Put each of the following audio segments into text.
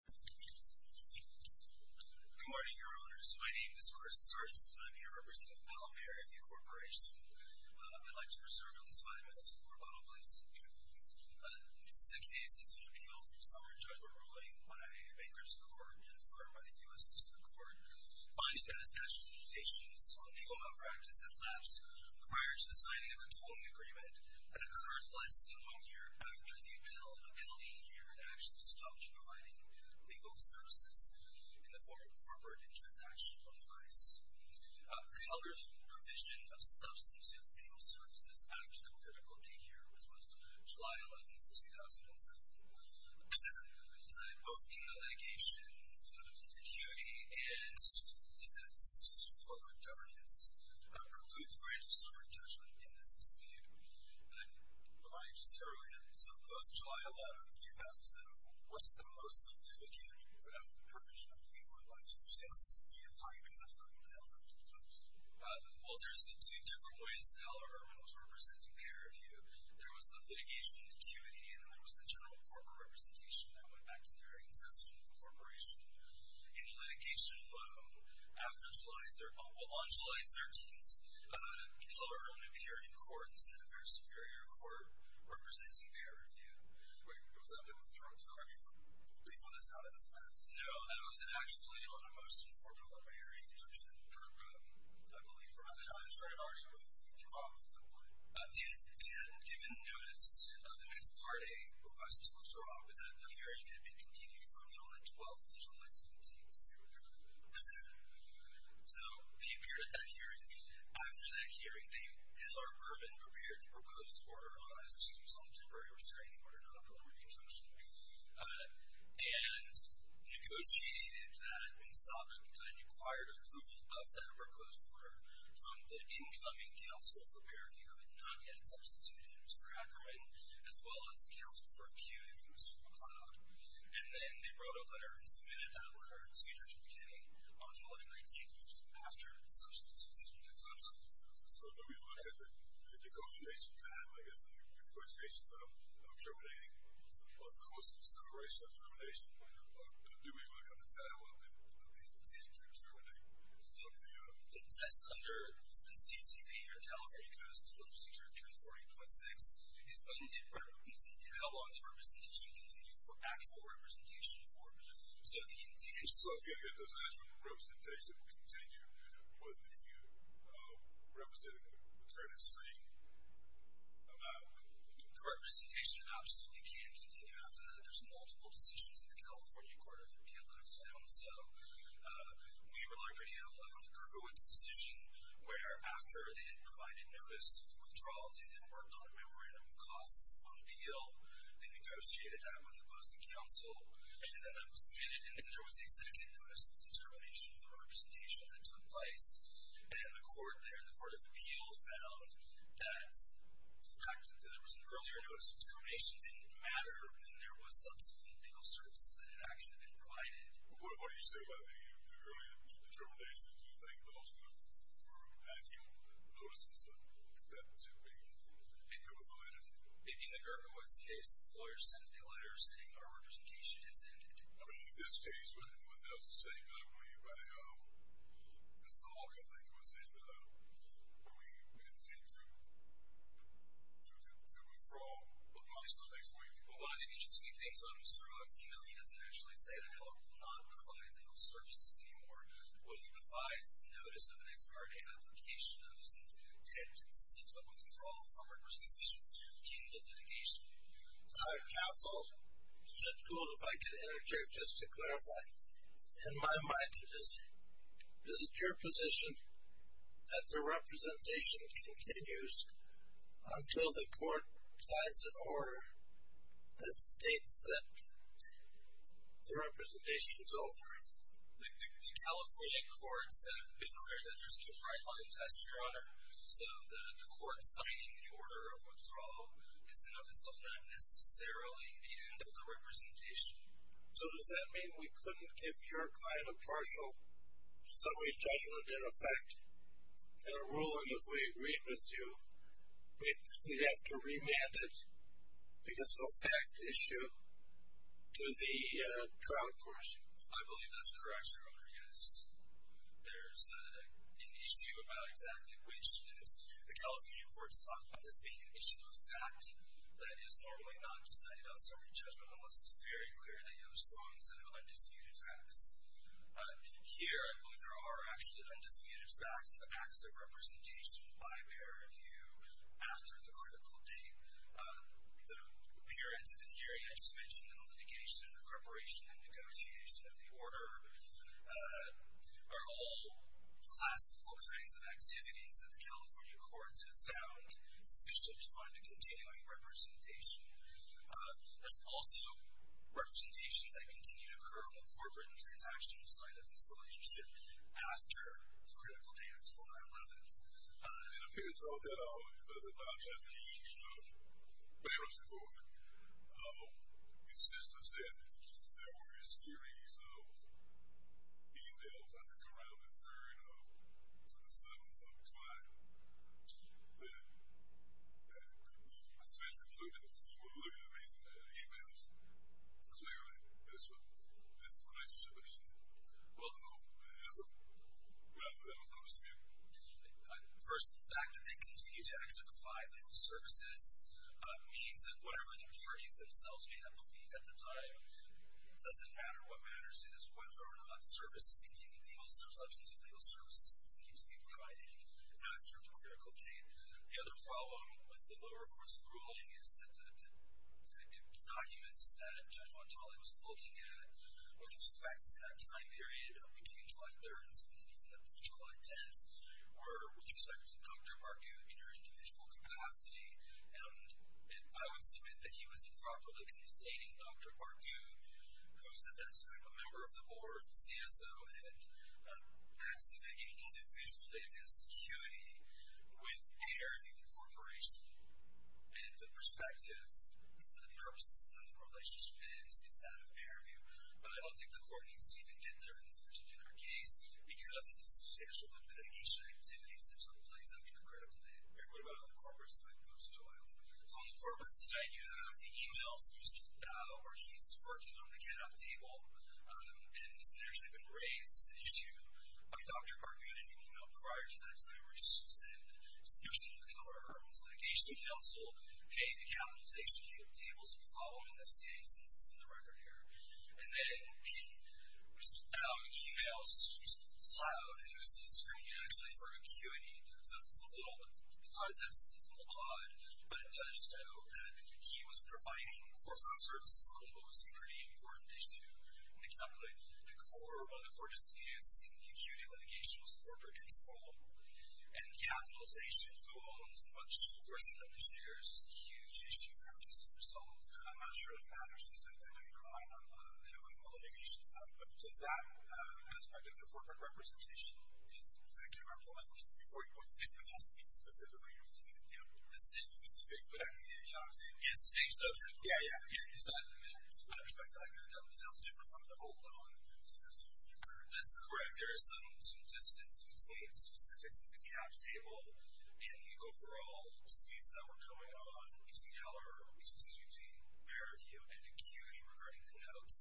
Good morning, Your Honors. My name is Chris Sargent and I'm here representing Palomare LLP Corporation. I'd like to reserve at least five minutes for rebuttal, please. In the six days since an appeal for a summary judgment ruling by the Bankruptcy Court and a firm by the U.S. District Court, finding that a statute of limitations on legal malpractice had lapsed prior to the signing of the tolling agreement and occurred less than one year after the appeal, LLP here had actually stopped providing legal services in the form of corporate and transactional advice. For Heller's provision of substantive legal services after the critical date here, which was July 11, 2007, both in the litigation, the duty and the support of governance, precludes the granting of a summary judgment in this suit. And then, before I just tear away at it, so post-July 11, 2007, what's the most significant provision of legal advice you've seen since your time in the firm with Heller LLP? Well, there's the two different ways that Heller Ehrman was representing Paravue. There was the litigation acuity and then there was the general corporate representation that went back to their inception with the corporation. In the litigation alone, on July 13th, Heller Ehrman appeared in court and sat at their superior court, representing Paravue. Wait, was that with Jerome Taylor? Please let us know how that was met. No, that was actually on a motion for preliminary adjudication program, I believe. I'm sorry, I've already moved you off the point. At the end, given notice of the next Part A request to withdraw, but that hearing had continued from July 12th to July 17th through July 11th. So, they appeared at that hearing. After that hearing, Heller Ehrman prepared the proposed order on a temporary restraining order, not a preliminary injunction, and negotiated that and sought and required approval of that proposed order from the incoming counsel for Paravue, who had not yet substituted Mr. Ackerman, as well as the counsel for Acute and Mr. McLeod. And then they wrote a letter and submitted that letter procedurally beginning on July 19th, which was after the substitution had been done. So, do we look at the negotiation time, I guess, negotiation time of terminating or the course of acceleration of termination? Or do we look at the time of the intent to terminate? The test under the CCP or California Code of Civil Procedure 248.6 is undue representation. How long does representation continue for, actual representation for? So, the intent... So, again, it doesn't ask for representation to continue, but the representative term is free, allowed. Representation absolutely can continue after there's multiple decisions in the California Court of Appeal that are found. So, we were lucky to have the Gerkowitz decision, where after they had provided notice of withdrawal, they then worked on a memorandum of costs on appeal. They negotiated that with opposing counsel, and then that was submitted. And then there was a second notice of determination for representation that took place. And the court there, the Court of Appeal, found that the fact that there was an earlier notice of termination didn't matter when there was subsequent legal services that had actually been provided. Well, what do you say about the earlier determinations? Do you think those were actual notices that should be given validity? In the Gerkowitz case, the lawyer sends a letter saying our representation has ended. I mean, in this case, that was the same, I believe, by Mr. Hawke, I think, who was saying that we intend to withdraw at least until next week. Well, one of the interesting things about Mr. Hawke's email, he doesn't actually say that the court will not provide legal services anymore. What he provides is notice of an ex parte application of his intent to seek a withdrawal from representation in the litigation. Counsel, it's just cool if I could interject just to clarify. In my mind, it is your position that the representation continues until the court decides in order that states that the representation is over. The California courts have been clear that there's no right on the test, Your Honor. So the court signing the order of withdrawal is in of itself not necessarily the end of the representation. So does that mean we couldn't give your client a partial summary judgment in effect and a because of fact issue to the trial court? I believe that's correct, Your Honor, yes. There's an issue about exactly which is the California courts talked about this being an issue of fact that is normally not decided on summary judgment unless it's very clear that you have a strong set of undisputed facts. Here, I believe there are actually undisputed facts of acts of representation by a pair of you after the critical date. The period of the hearing I just mentioned in the litigation, the preparation and negotiation of the order are all classical kinds of activities that the California courts have found sufficient to find a continuing representation. There's also representations that continue to occur on the corporate and transactional side of this relationship after the critical date of July 11th. It appears though that there's a non-judgmental use of bearer support. It's simply said there were a series of emails, I think, around the 3rd to the 7th of July that could be officially concluded. It would seem a little bit amazing to have emails declaring this relationship. Well, no, it isn't. That would be a little bit of a spoof. First, the fact that they continue to exercise legal services means that whatever the parties themselves may have believed at the time, it doesn't matter what matters. It is whether or not services continue, legal services, substantive legal services continue to be provided after the critical date. The other problem with the lower court's ruling is that the documents that Judge Montale was looking at with respect to that time period between July 3rd and something even up to July 10th were with respect to Dr. Barghout in her individual capacity. And I would submit that he was improperly constating Dr. Barghout, who was at that time a member of the board, CSO, and at the beginning, individually against security, with Peter Barghout. I don't think the court needs to even get there in this particular case because of the substantial litigation activities that took place up to the critical date. What about on the corporate side, folks? So on the corporate side, you have the emails used to bow where he's working on the get-up table, and this has actually been raised as an issue by Dr. Barghout in an email prior to that time where he's just in scarcity of power. He's litigation counsel. Hey, the county's executing tables, a problem in this case, and this is in the record here. And then he was just out emails, just in the cloud, and he was doing a screening actually for ACUITY. So it's a little, the context is a little odd, but it does show that he was providing corporate services on what was a pretty important issue in the county. The core, while the court disputes in the ACUITY litigation was corporate control, and the capitalization of the loans and what she personally shares is a huge issue for ACUITY as a result. I'm not sure if that matters, because I know you're eyeing on the litigation side, but does that aspect of the corporate representation, is that a key part of the litigation? Before you point to ACUITY, it has to be specifically, you know, the same specific, but I mean, you know what I'm saying? It's the same subject. Yeah, yeah. ACUITY side, I mean, with respect to ICAW, it sounds different from the whole loan. So that's what you heard. That's correct. There is some distance between specifics of the cap table and the overall disputes that were going on between Heller, which was ACUITY, and ACUITY regarding the notes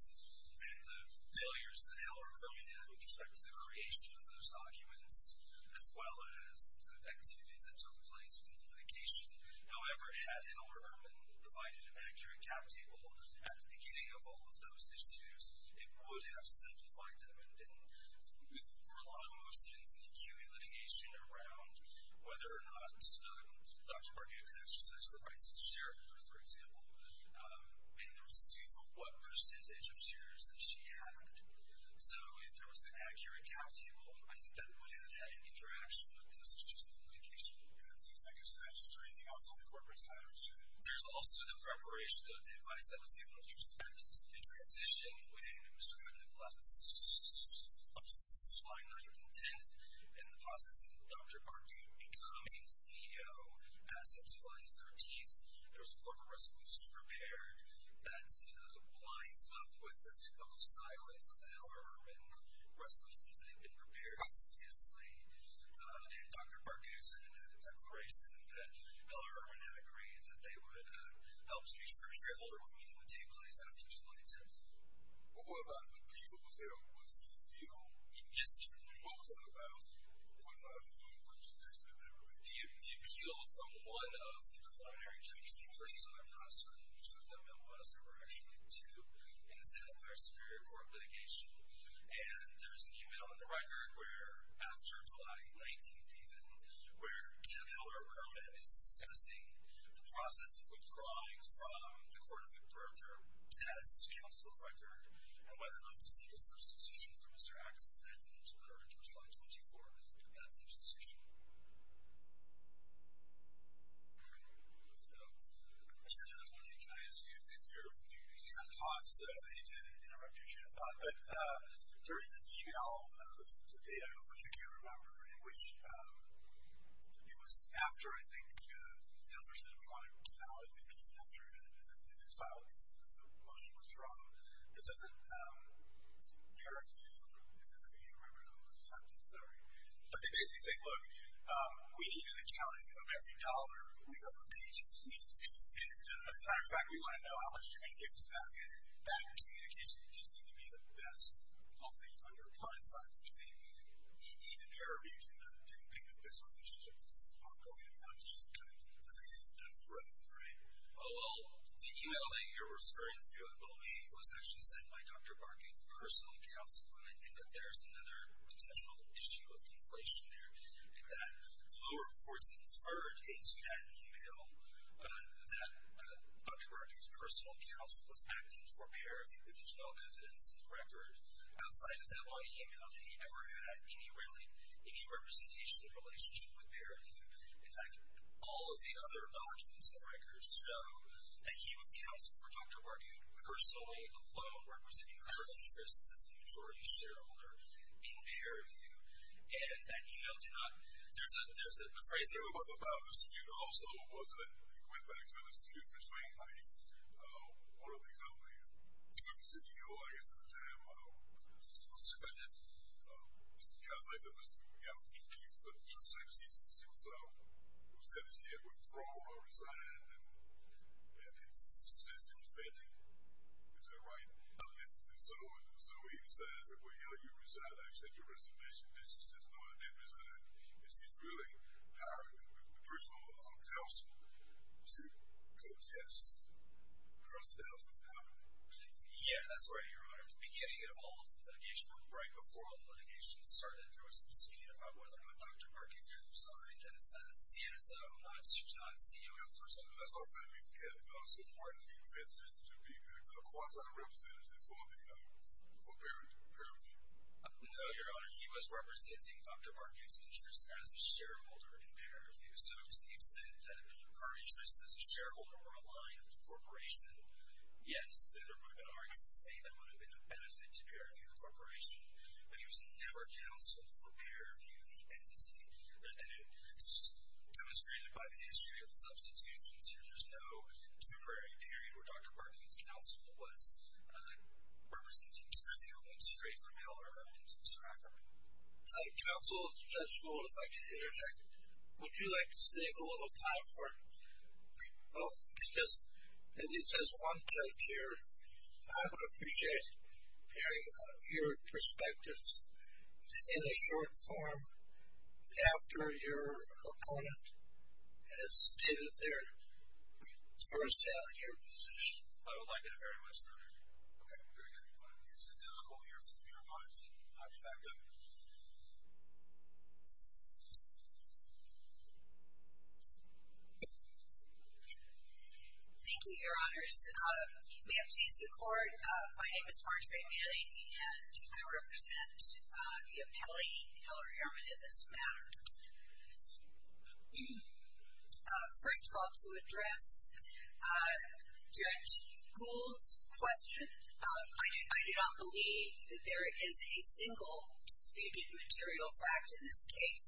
and the failures that Heller, Irwin had with respect to the creation of those documents, as well as the activities that took place with the litigation. However, had Heller, Irwin provided an accurate cap table at the beginning of all of those disputes, it would have simplified them and didn't. There were a lot of movements in the ACUITY litigation around whether or not Dr. Barnett could exercise the rights as a shareholder, for example. And there was a dispute about what percentage of shares that she had. So if there was an accurate cap table, I think that would have had an interaction with those litigation organs. Do you expect a status or anything else on the corporate side of the dispute? There's also the preparation of the advice that was given with respect to the transition when Mr. Barnett left on July 9th and 10th, and the process of Dr. Barnett becoming CEO as of July 13th. There was a corporate resolution prepared that lines up with the typical stylings of Heller, Irwin resolutions that had been prepared previously. And Dr. Barnett sent in a declaration that Heller, Irwin had agreed that they would help to make sure a shareholder meeting would take place after July 10th. What about the appeals that was held? Was the appeal... Yes, the appeal. What was that about? What did they say about that? The appeals from one of the preliminary tribunals, which I'm not sure which of them it was. There were actually two in the Santa Clara Superior Court litigation. And there's an email in the record where after July 19th even, where again, Heller, Irwin is discussing the process of withdrawing from the court of birth or death's counsel record and whether or not to seek a substitution from Mr. Axe. That didn't occur until July 24th, that substitution. I'm just wondering, can I ask you if you're... I'm going to pause so that you didn't interrupt me, if you had a thought. But there is an email of the data, which I can't remember, in which it was after, I think, Heller said he wanted to get out. It would be even after the motion was drawn. That doesn't occur to me. I can't remember the sentence. Sorry. But they basically say, look. We need an accounting of every dollar we owe the patient. And it's not exactly we want to know how much you're going to give us back. And that communication didn't seem to be the best on the client side. You see, even paramedics didn't pick up this relationship. This is ongoing. Everyone's just kind of dying down the road, right? Well, the email that you're referring to, it was actually sent by Dr. Barkey's personal counsel. And I think that there's another potential issue of conflation there, that the lower courts inferred into that email that Dr. Barkey's personal counsel was acting for paraview. There's no evidence in the record outside of that one email that he ever had any representation in a relationship with paraview. In fact, all of the other documents and records show that he was counsel for Dr. Barkey, personally alone, representing her interests as the majority shareholder in paraview. And that email did not – there's a phrasing. It was about a dispute also, wasn't it? It went back to a dispute between one of the companies, the CEO, I guess, at the time. Mr. Fenton? Yeah. He said, he said to himself, he said, he said, withdraw or resign. And he says to Mr. Fenton, is that right? And so he says, well, yeah, you resigned. I've sent you a resignation. He says, no, I didn't resign. He says, really, hiring a personal counsel to contest her status with paraview. Yeah, that's right, Your Honor. It was beginning of all of the litigation right before all the litigation started. There was a dispute about whether or not Dr. Barkey was assigned as a CSO, not CEO, per se. Mr. Fenton can support the interest to be a quasi-representative for the – for paraview? No, Your Honor. He was representing Dr. Barkey's interests as a shareholder in paraview. So to the extent that he encouraged this as a shareholder or a line of the corporation, yes, there would have been arguments made that would have been a benefit to paraview the corporation. But he was never counseled for paraview the entity. And it's demonstrated by the history of the substitutions here. There's no temporary period where Dr. Barkey's counsel was representing CEO and straight from hell or heaven to Mr. Ackerman. Counsel Judge Gould, if I can interject, would you like to save a little time for – Well, because it says one judge here. I would appreciate hearing your perspectives in a short form after your opponent has stated their first-hand, your position. I would like that very much, Your Honor. Okay, very good. We'll hear from your opponent and I'll be back up. Thank you, Your Honors. May it please the Court, my name is Marjorie Manning, and I represent the appellee in hell or heaven in this matter. First of all, to address Judge Gould's question, I do not believe that there is a single disputed material fact in this case.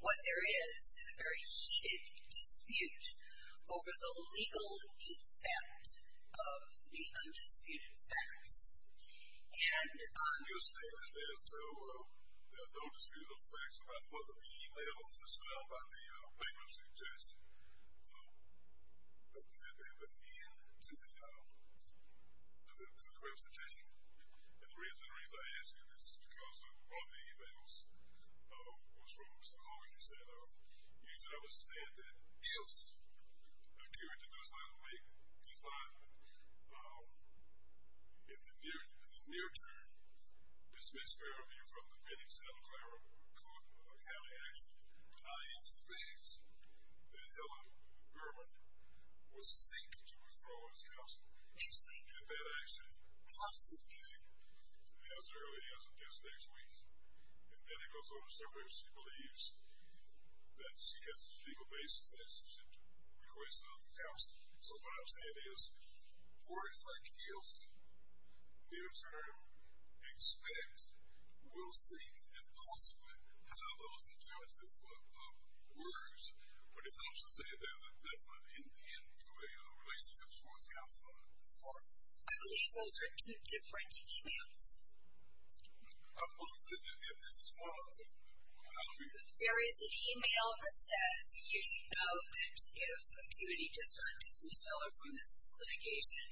What there is is a very heated dispute over the legal effect of the undisputed facts. Your Honor, you're saying that there are no disputed facts about whether the e-mails that were sent out by the papers suggest that they have been in to the representation? And the reason I ask you this is because one of the e-mails was from Mr. Hall, and he said, I would stand that if a jury does not make this judgment, in the near term, dismiss therapy from the penance, and a clerical could have action, I expect that Helen Berman would seek to withdraw his counsel, and that action possibly as early as this next week. And then it goes on to say that she believes that she has a legal basis that she should request another counsel. So what I'm saying is, words like if, near term, expect, will seek, and possibly have those determinative words, but it helps to say that there's a definite end to a relationship towards counsel. I believe those are two different e-mails. If this is one of them. There is an e-mail that says, you should know that if a jury does not dismiss Helen from this litigation,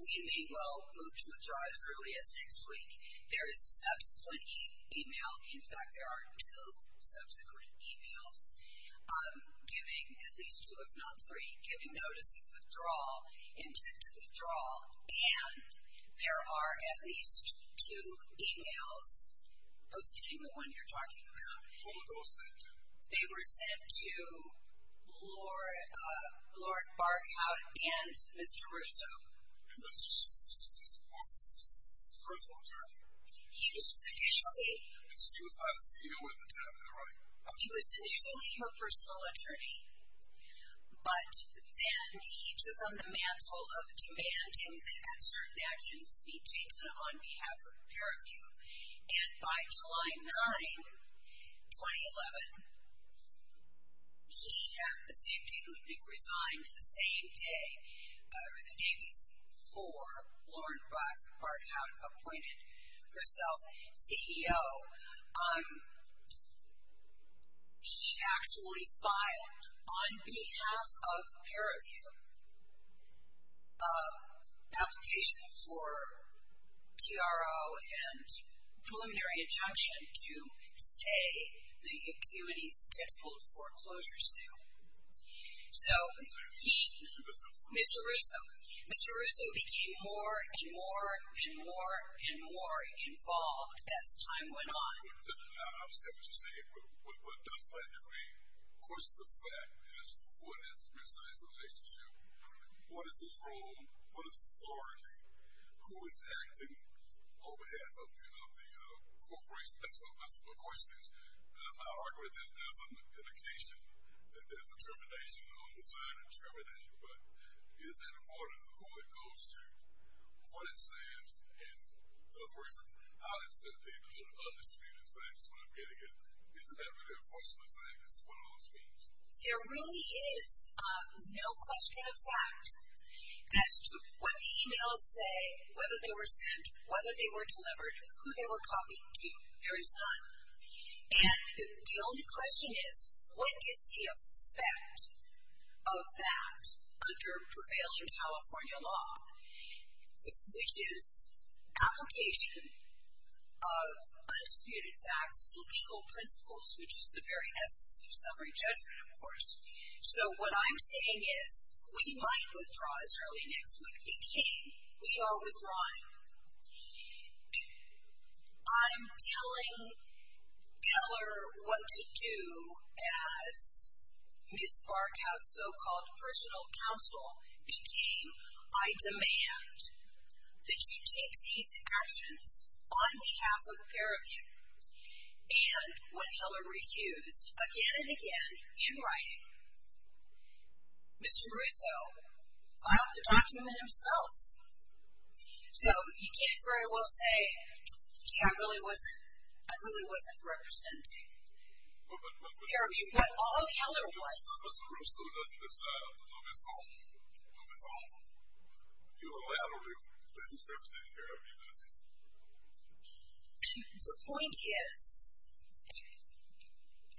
we may well move to withdraw as early as next week. There is a subsequent e-mail, in fact, there are two subsequent e-mails, giving at least two, if not three, giving notice of withdrawal, intent to withdraw, and there are at least two e-mails. Who's getting the one you're talking about? Who were those sent to? They were sent to Lord Barkhout and Mr. Russo. And was he his personal attorney? He was initially. And he was obviously dealing with the cabinet, right? He was initially her personal attorney, but then he took on the mantle of demanding that certain actions be taken on behalf of her. And by July 9, 2011, he, at the same date, resigned the same day, or the day before Lord Barkhout appointed herself CEO. So he actually filed, on behalf of her, an application for TRO and preliminary injunction to stay the activities scheduled for closure sale. So he, Mr. Russo, Mr. Russo became more and more and more and more involved as time went on. Now, I understand what you're saying, but what does that mean? Of course, the fact is, what is the relationship? What is his role? What is his authority? Who is acting on behalf of the corporation? That's what my question is. I'll argue that there's an indication that there's a determination, an undesired determination, but is that a part of who it goes to, what it says, and the authority? How is it that they put an undisputed sign? That's what I'm getting at. Isn't that really impossible to say what all this means? There really is no question of fact as to what the emails say, whether they were sent, whether they were delivered, who they were copied to. There is none. And the only question is, what is the effect of that under prevailing California law? Which is application of undisputed facts to legal principles, which is the very essence of summary judgment, of course. So what I'm saying is, we might withdraw as early next week. We are withdrawing. I'm telling Keller what to do as Ms. Barkow's so-called personal counsel became a demand that she take these actions on behalf of the peer review. And when Keller refused again and again in writing, Mr. Russo filed the document himself. So you can't very well say, gee, I really wasn't representing peer review. But all Keller was. Mr. Russo doesn't decide on his own. You allowed him to represent peer review, does he? The point is,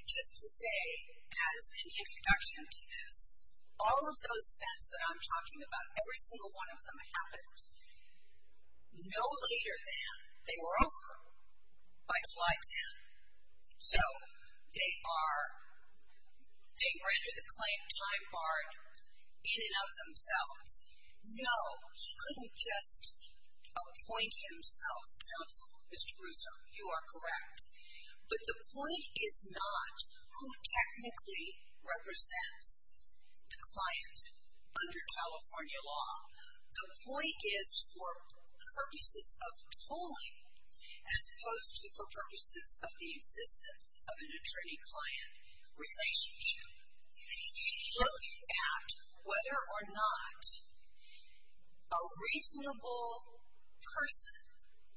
just to say as an introduction to this, all of those events that I'm talking about, every single one of them happened no later than they were over by July 10th. So they are, they render the client time barred in and of themselves. No, he couldn't just appoint himself counsel, Mr. Russo, you are correct. But the point is not who technically represents the client under California law. The point is for purposes of tolling as opposed to for purposes of the existence of an attorney-client relationship. Looking at whether or not a reasonable person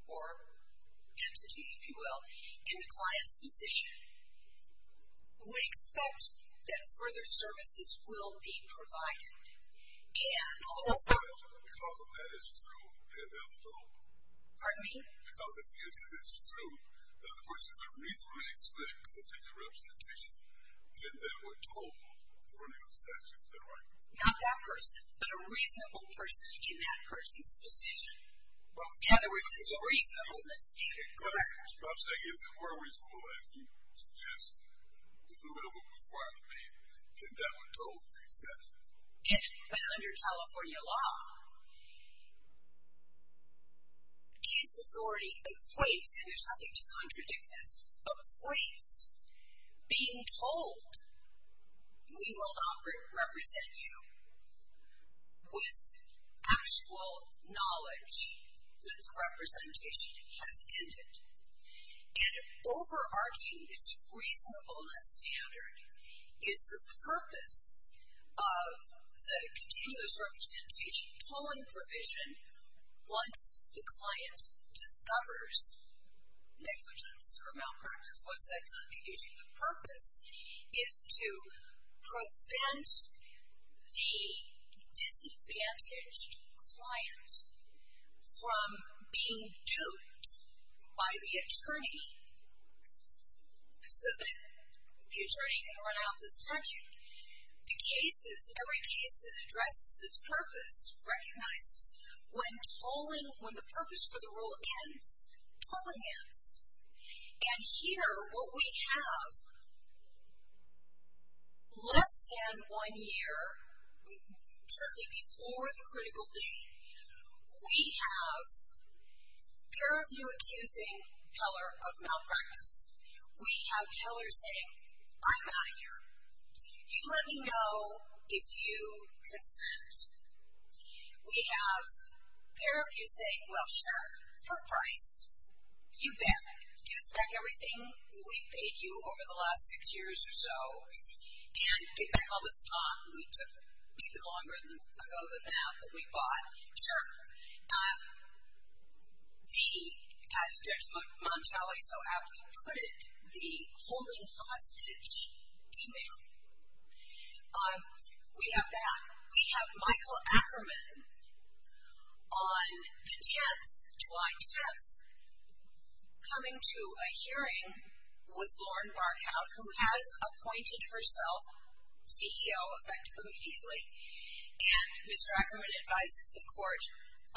or entity, if you will, in the client's position would expect that further services will be provided. And also. Because if that is true, then they're told. Pardon me? Because if it is true that a person could reasonably expect continued representation, then they were told to run a statute of the right. Not that person, but a reasonable person in that person's position. In other words, it's a reasonableness standard. Correct. I'm saying if they were reasonable, as you suggested, whoever prescribed the payment, that they were told to run a statute. But under California law, case authority equates, and there's nothing to contradict this, equates being told, we will not represent you with actual knowledge that the representation has ended. And overarching this reasonableness standard is the purpose of the continuous representation tolling provision once the client discovers negligence or malpractice. What's that going to be using? The purpose is to prevent the disadvantaged client from being duped by the attorney so that the attorney can run out of his pension. The cases, every case that addresses this purpose recognizes when tolling, when the purpose for the rule ends, tolling ends. And here what we have less than one year, certainly before the critical date, we have a pair of you accusing Heller of malpractice. We have Heller saying, I'm out of here. You let me know if you consent. We have a pair of you saying, well, sure, for price, you bet. Give us back everything we paid you over the last six years or so, and get back all this talk we took even longer ago than now that we bought. Sure. As Judge Montelli so aptly put it, the holding hostage email. We have that. We have Michael Ackerman on the 10th, July 10th, coming to a hearing with Lauren Barkow, who has appointed herself CEO, effective immediately. And Ms. Ackerman advises the court,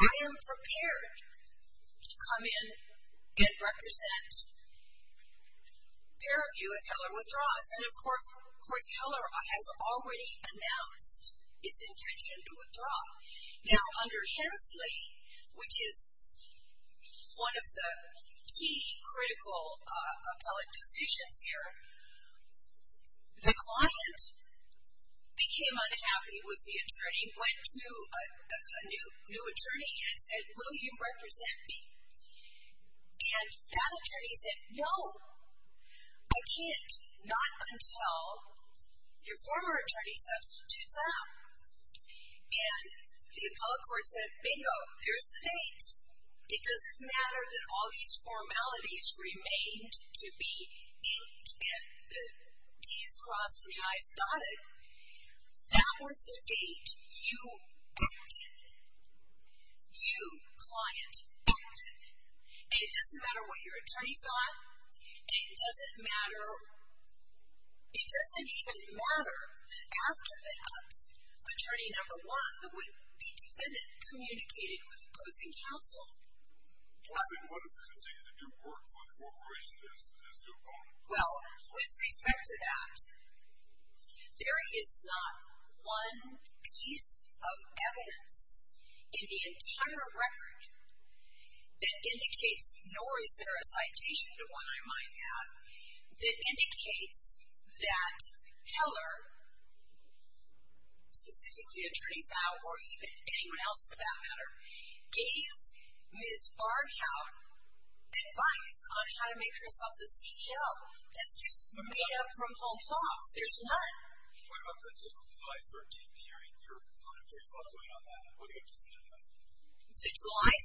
I am prepared to come in and represent a pair of you if Heller withdraws. And, of course, Heller has already announced his intention to withdraw. Now, under Hensley, which is one of the key critical appellate decisions here, the client became unhappy with the attorney, went to a new attorney and said, will you represent me? And that attorney said, no, I can't, not until your former attorney substitutes out. And the appellate court said, bingo, here's the date. It doesn't matter that all these formalities remained to be inked and the D's crossed and the I's dotted. That was the date you booked it. You, client, booked it. And it doesn't matter what your attorney thought, and it doesn't matter, it doesn't even matter after that, attorney number one, it would be defendant communicated with opposing counsel. And what if they continue to do work for the corporation as your opponent? Well, with respect to that, there is not one piece of evidence in the entire record that indicates, nor is there a citation to one I might have, that indicates that Heller, specifically attorney Fowle, or even anyone else for that matter, gave Ms. Barchow advice on how to make herself the CEO. That's just made up from hop hop. There's none. What about the July 13th hearing? There's a lot going on there. What do you have to say to that? The July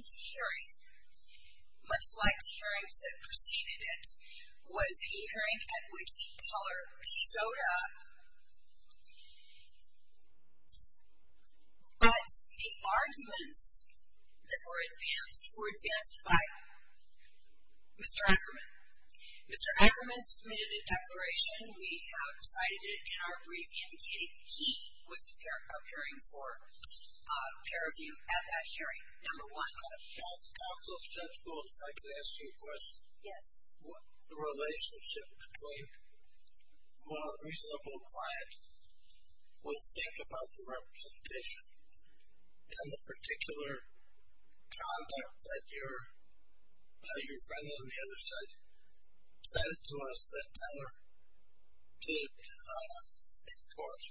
13th hearing, much like the hearings that preceded it, was a hearing at which Heller showed up, but the arguments that were advanced were advanced by Mr. Ackerman. Mr. Ackerman submitted a declaration. We have cited it in our brief, indicating that he was appearing for peer review at that hearing, number one. Also, Judge Gold, if I could ask you a question. Yes. The relationship between what a reasonable client would think about the representation and the particular conduct that your friend on the other side cited to us that Heller did in court.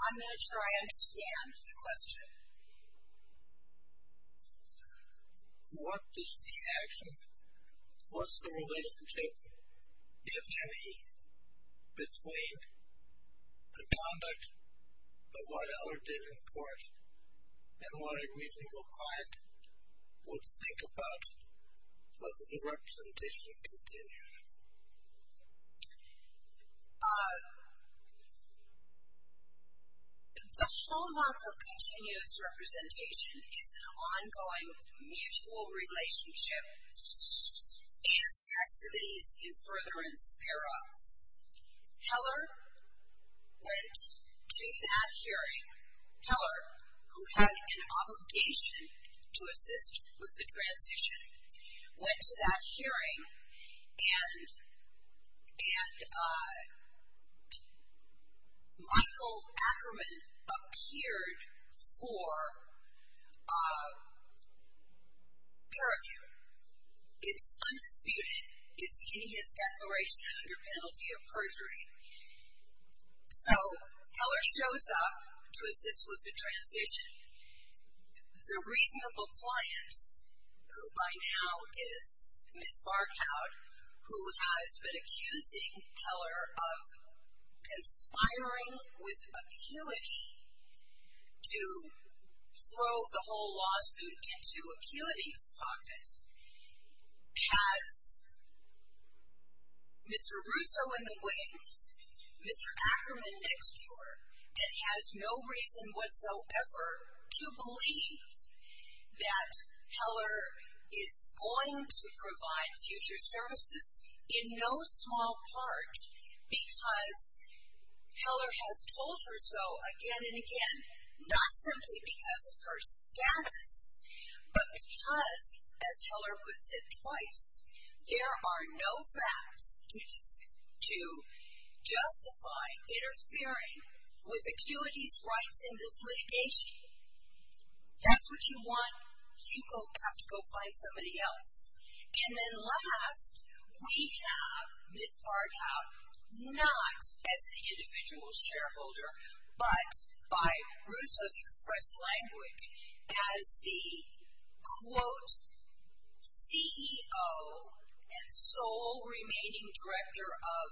I'm not sure I understand the question. What is the action? What's the relationship, if any, between the conduct of what Heller did in court and what a reasonable client would think about the representation continued? The hallmark of continuous representation is an ongoing mutual relationship and activities in furtherance thereof. Heller went to that hearing, Heller, who had an obligation to assist with the transition, went to that hearing, and Michael Ackerman appeared for peer review. It's undisputed. So, Heller shows up to assist with the transition. The reasonable client, who by now is Ms. Barkow, who has been accusing Heller of conspiring with Acuity to throw the whole lawsuit into Acuity's pocket, has Mr. Russo in the wings, Mr. Ackerman next to her, and has no reason whatsoever to believe that Heller is going to provide future services in no small part because Heller has told her so again and again, not simply because of her status, but because, as Heller puts it twice, there are no facts to justify interfering with Acuity's rights in this litigation. If that's what you want, you have to go find somebody else. And then last, we have Ms. Barkow not as the individual shareholder, but by Russo's express language, as the, quote, CEO and sole remaining director of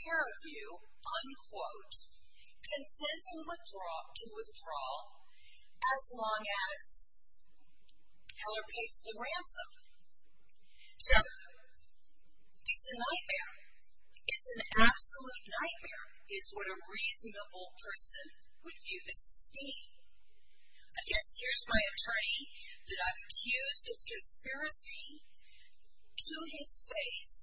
peer review, unquote, consenting to withdraw as long as Heller pays the ransom. So, it's a nightmare. It's an absolute nightmare is what a reasonable person would view this as being. I guess here's my attorney that I've accused of conspiracy to his face.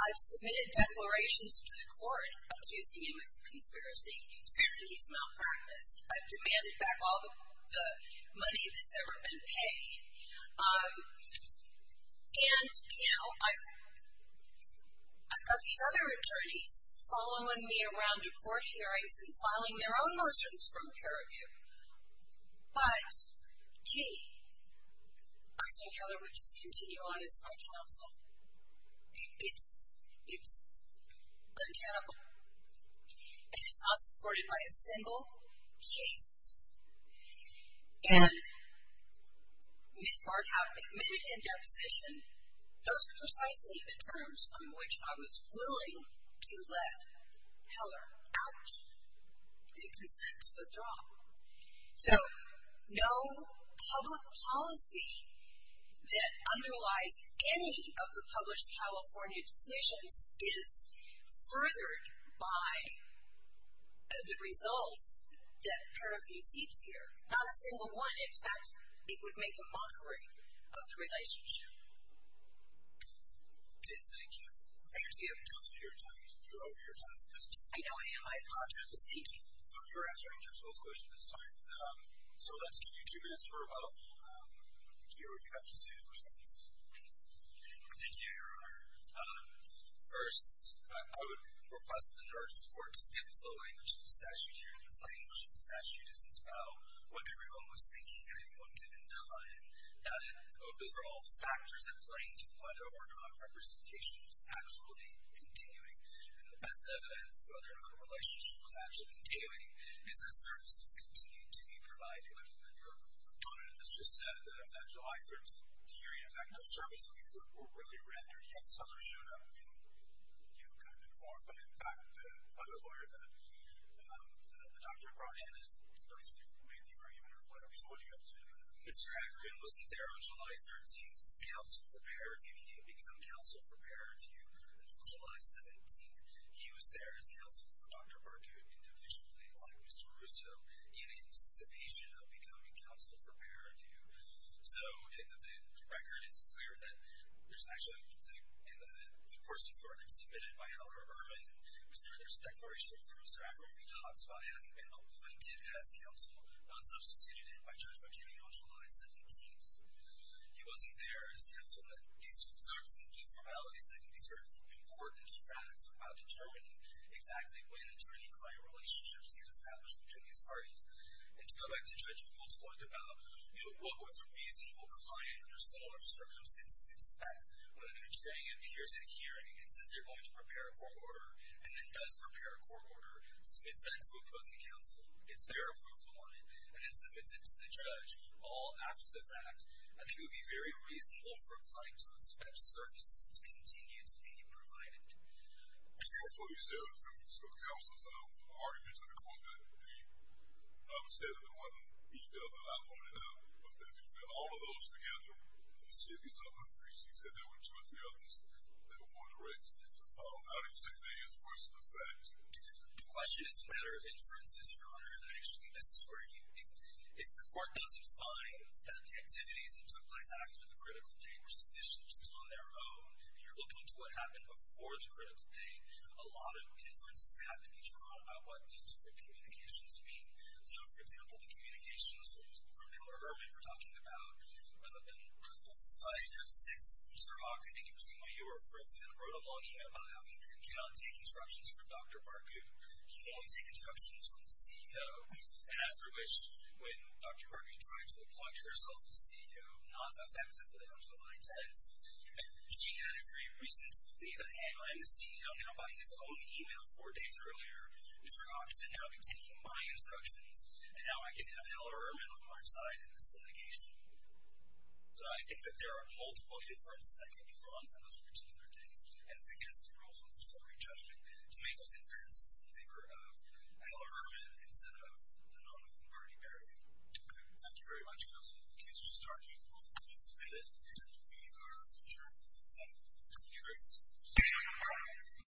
I've submitted declarations to the court accusing him of conspiracy, saying that he's malpracticed. I've demanded back all the money that's ever been paid. And, you know, I've got these other attorneys following me around to court hearings and filing their own motions from peer review. But, gee, I think Heller would just continue on as my counsel. It's mechanical. And it's not supported by a single case. And Ms. Barkow admitted in deposition, those are precisely the terms on which I was willing to let Heller out and consent to withdraw. So, no public policy that underlies any of the published California decisions is furthered by the results that peer review seeks here. Not a single one. In fact, it would make a mockery of the relationship. Okay, thank you. I see you haven't counted your time. You're over your time. I know I am. I apologize. Thank you. So, you're answering Jim Schill's question this time. So, let's give you two minutes for about a moment to hear what you have to say in response. Thank you, Your Honor. First, I would request that the court distinct the language of the statute here. This language of the statute isn't about what everyone was thinking or anyone given time. Those are all factors that play into whether or not representation was actually continuing. And the best evidence of whether or not a relationship was actually continuing is that services continue to be provided. Your Honor has just said that July 13th hearing, in fact, no services were really rendered. Yes, others showed up in kind of good form. But, in fact, the other lawyer that the doctor brought in is the person who made the argument or whatever. So, what do you have to say to that? Mr. Ackerman wasn't there on July 13th as counsel for peer review. He didn't become counsel for peer review until July 17th. He was there as counsel for Dr. Barkow individually, like Mr. Russo, in anticipation of becoming counsel for peer review. So, the record is clear that there's actually, in the person's record submitted by Howard Irwin, we see that there's a declaration from Mr. Ackerman. He talks about having been appointed as counsel, not substituted in by Judge McKinney on July 17th. He wasn't there as counsel. These sorts of informalities, I think these are important facts about determining exactly when attorney-client relationships can establish between these parties. And to go back to Judge Ruhle's point about, you know, what would the reasonable client under similar circumstances expect when an attorney appears in a hearing and says they're going to prepare a court order and then does prepare a court order, submits that to opposing counsel, gets their approval on it, and then submits it to the judge all after the fact, I think it would be very reasonable for a client to expect services to continue to be provided. And so you said there were two counsels. I've already mentioned to the court that the, and I would say that the one email that I pointed out, but that if you've got all of those together, and said you saw three, so you said there were two or three others that were more direct, how do you say that is a question of facts? The question is a matter of inferences, Your Honor, and I actually think this is where you, if the court doesn't find that the activities that took place after the critical date were sufficiently still on their own, and you're looking to what happened before the critical date, a lot of inferences have to be drawn about what these different communications mean. So, for example, the communications from Hillary Erdman we're talking about, and then the fight at 6th, Mr. Hawk, I think it was the one you were referring to, wrote a long email about how he cannot take instructions from Dr. Bargu. He can only take instructions from the CEO, and after which, when Dr. Bargu tried to appoint herself the CEO, Dr. Bargu did not effectively answer my text, and she had a very recent thing that, hey, I'm the CEO now, by his own email four days earlier, Mr. Hawk should now be taking my instructions, and now I can have Hillary Erdman on my side in this litigation. So I think that there are multiple inferences that can be drawn from those particular things, and it's against the rules of the jury judgment to make those inferences in favor of Hillary Erdman instead of the non-moving party, Bargu. Okay. Thank you very much, Kelsey. In case you're still talking, please submit it, and we are adjourned. Thank you. Thank you, guys.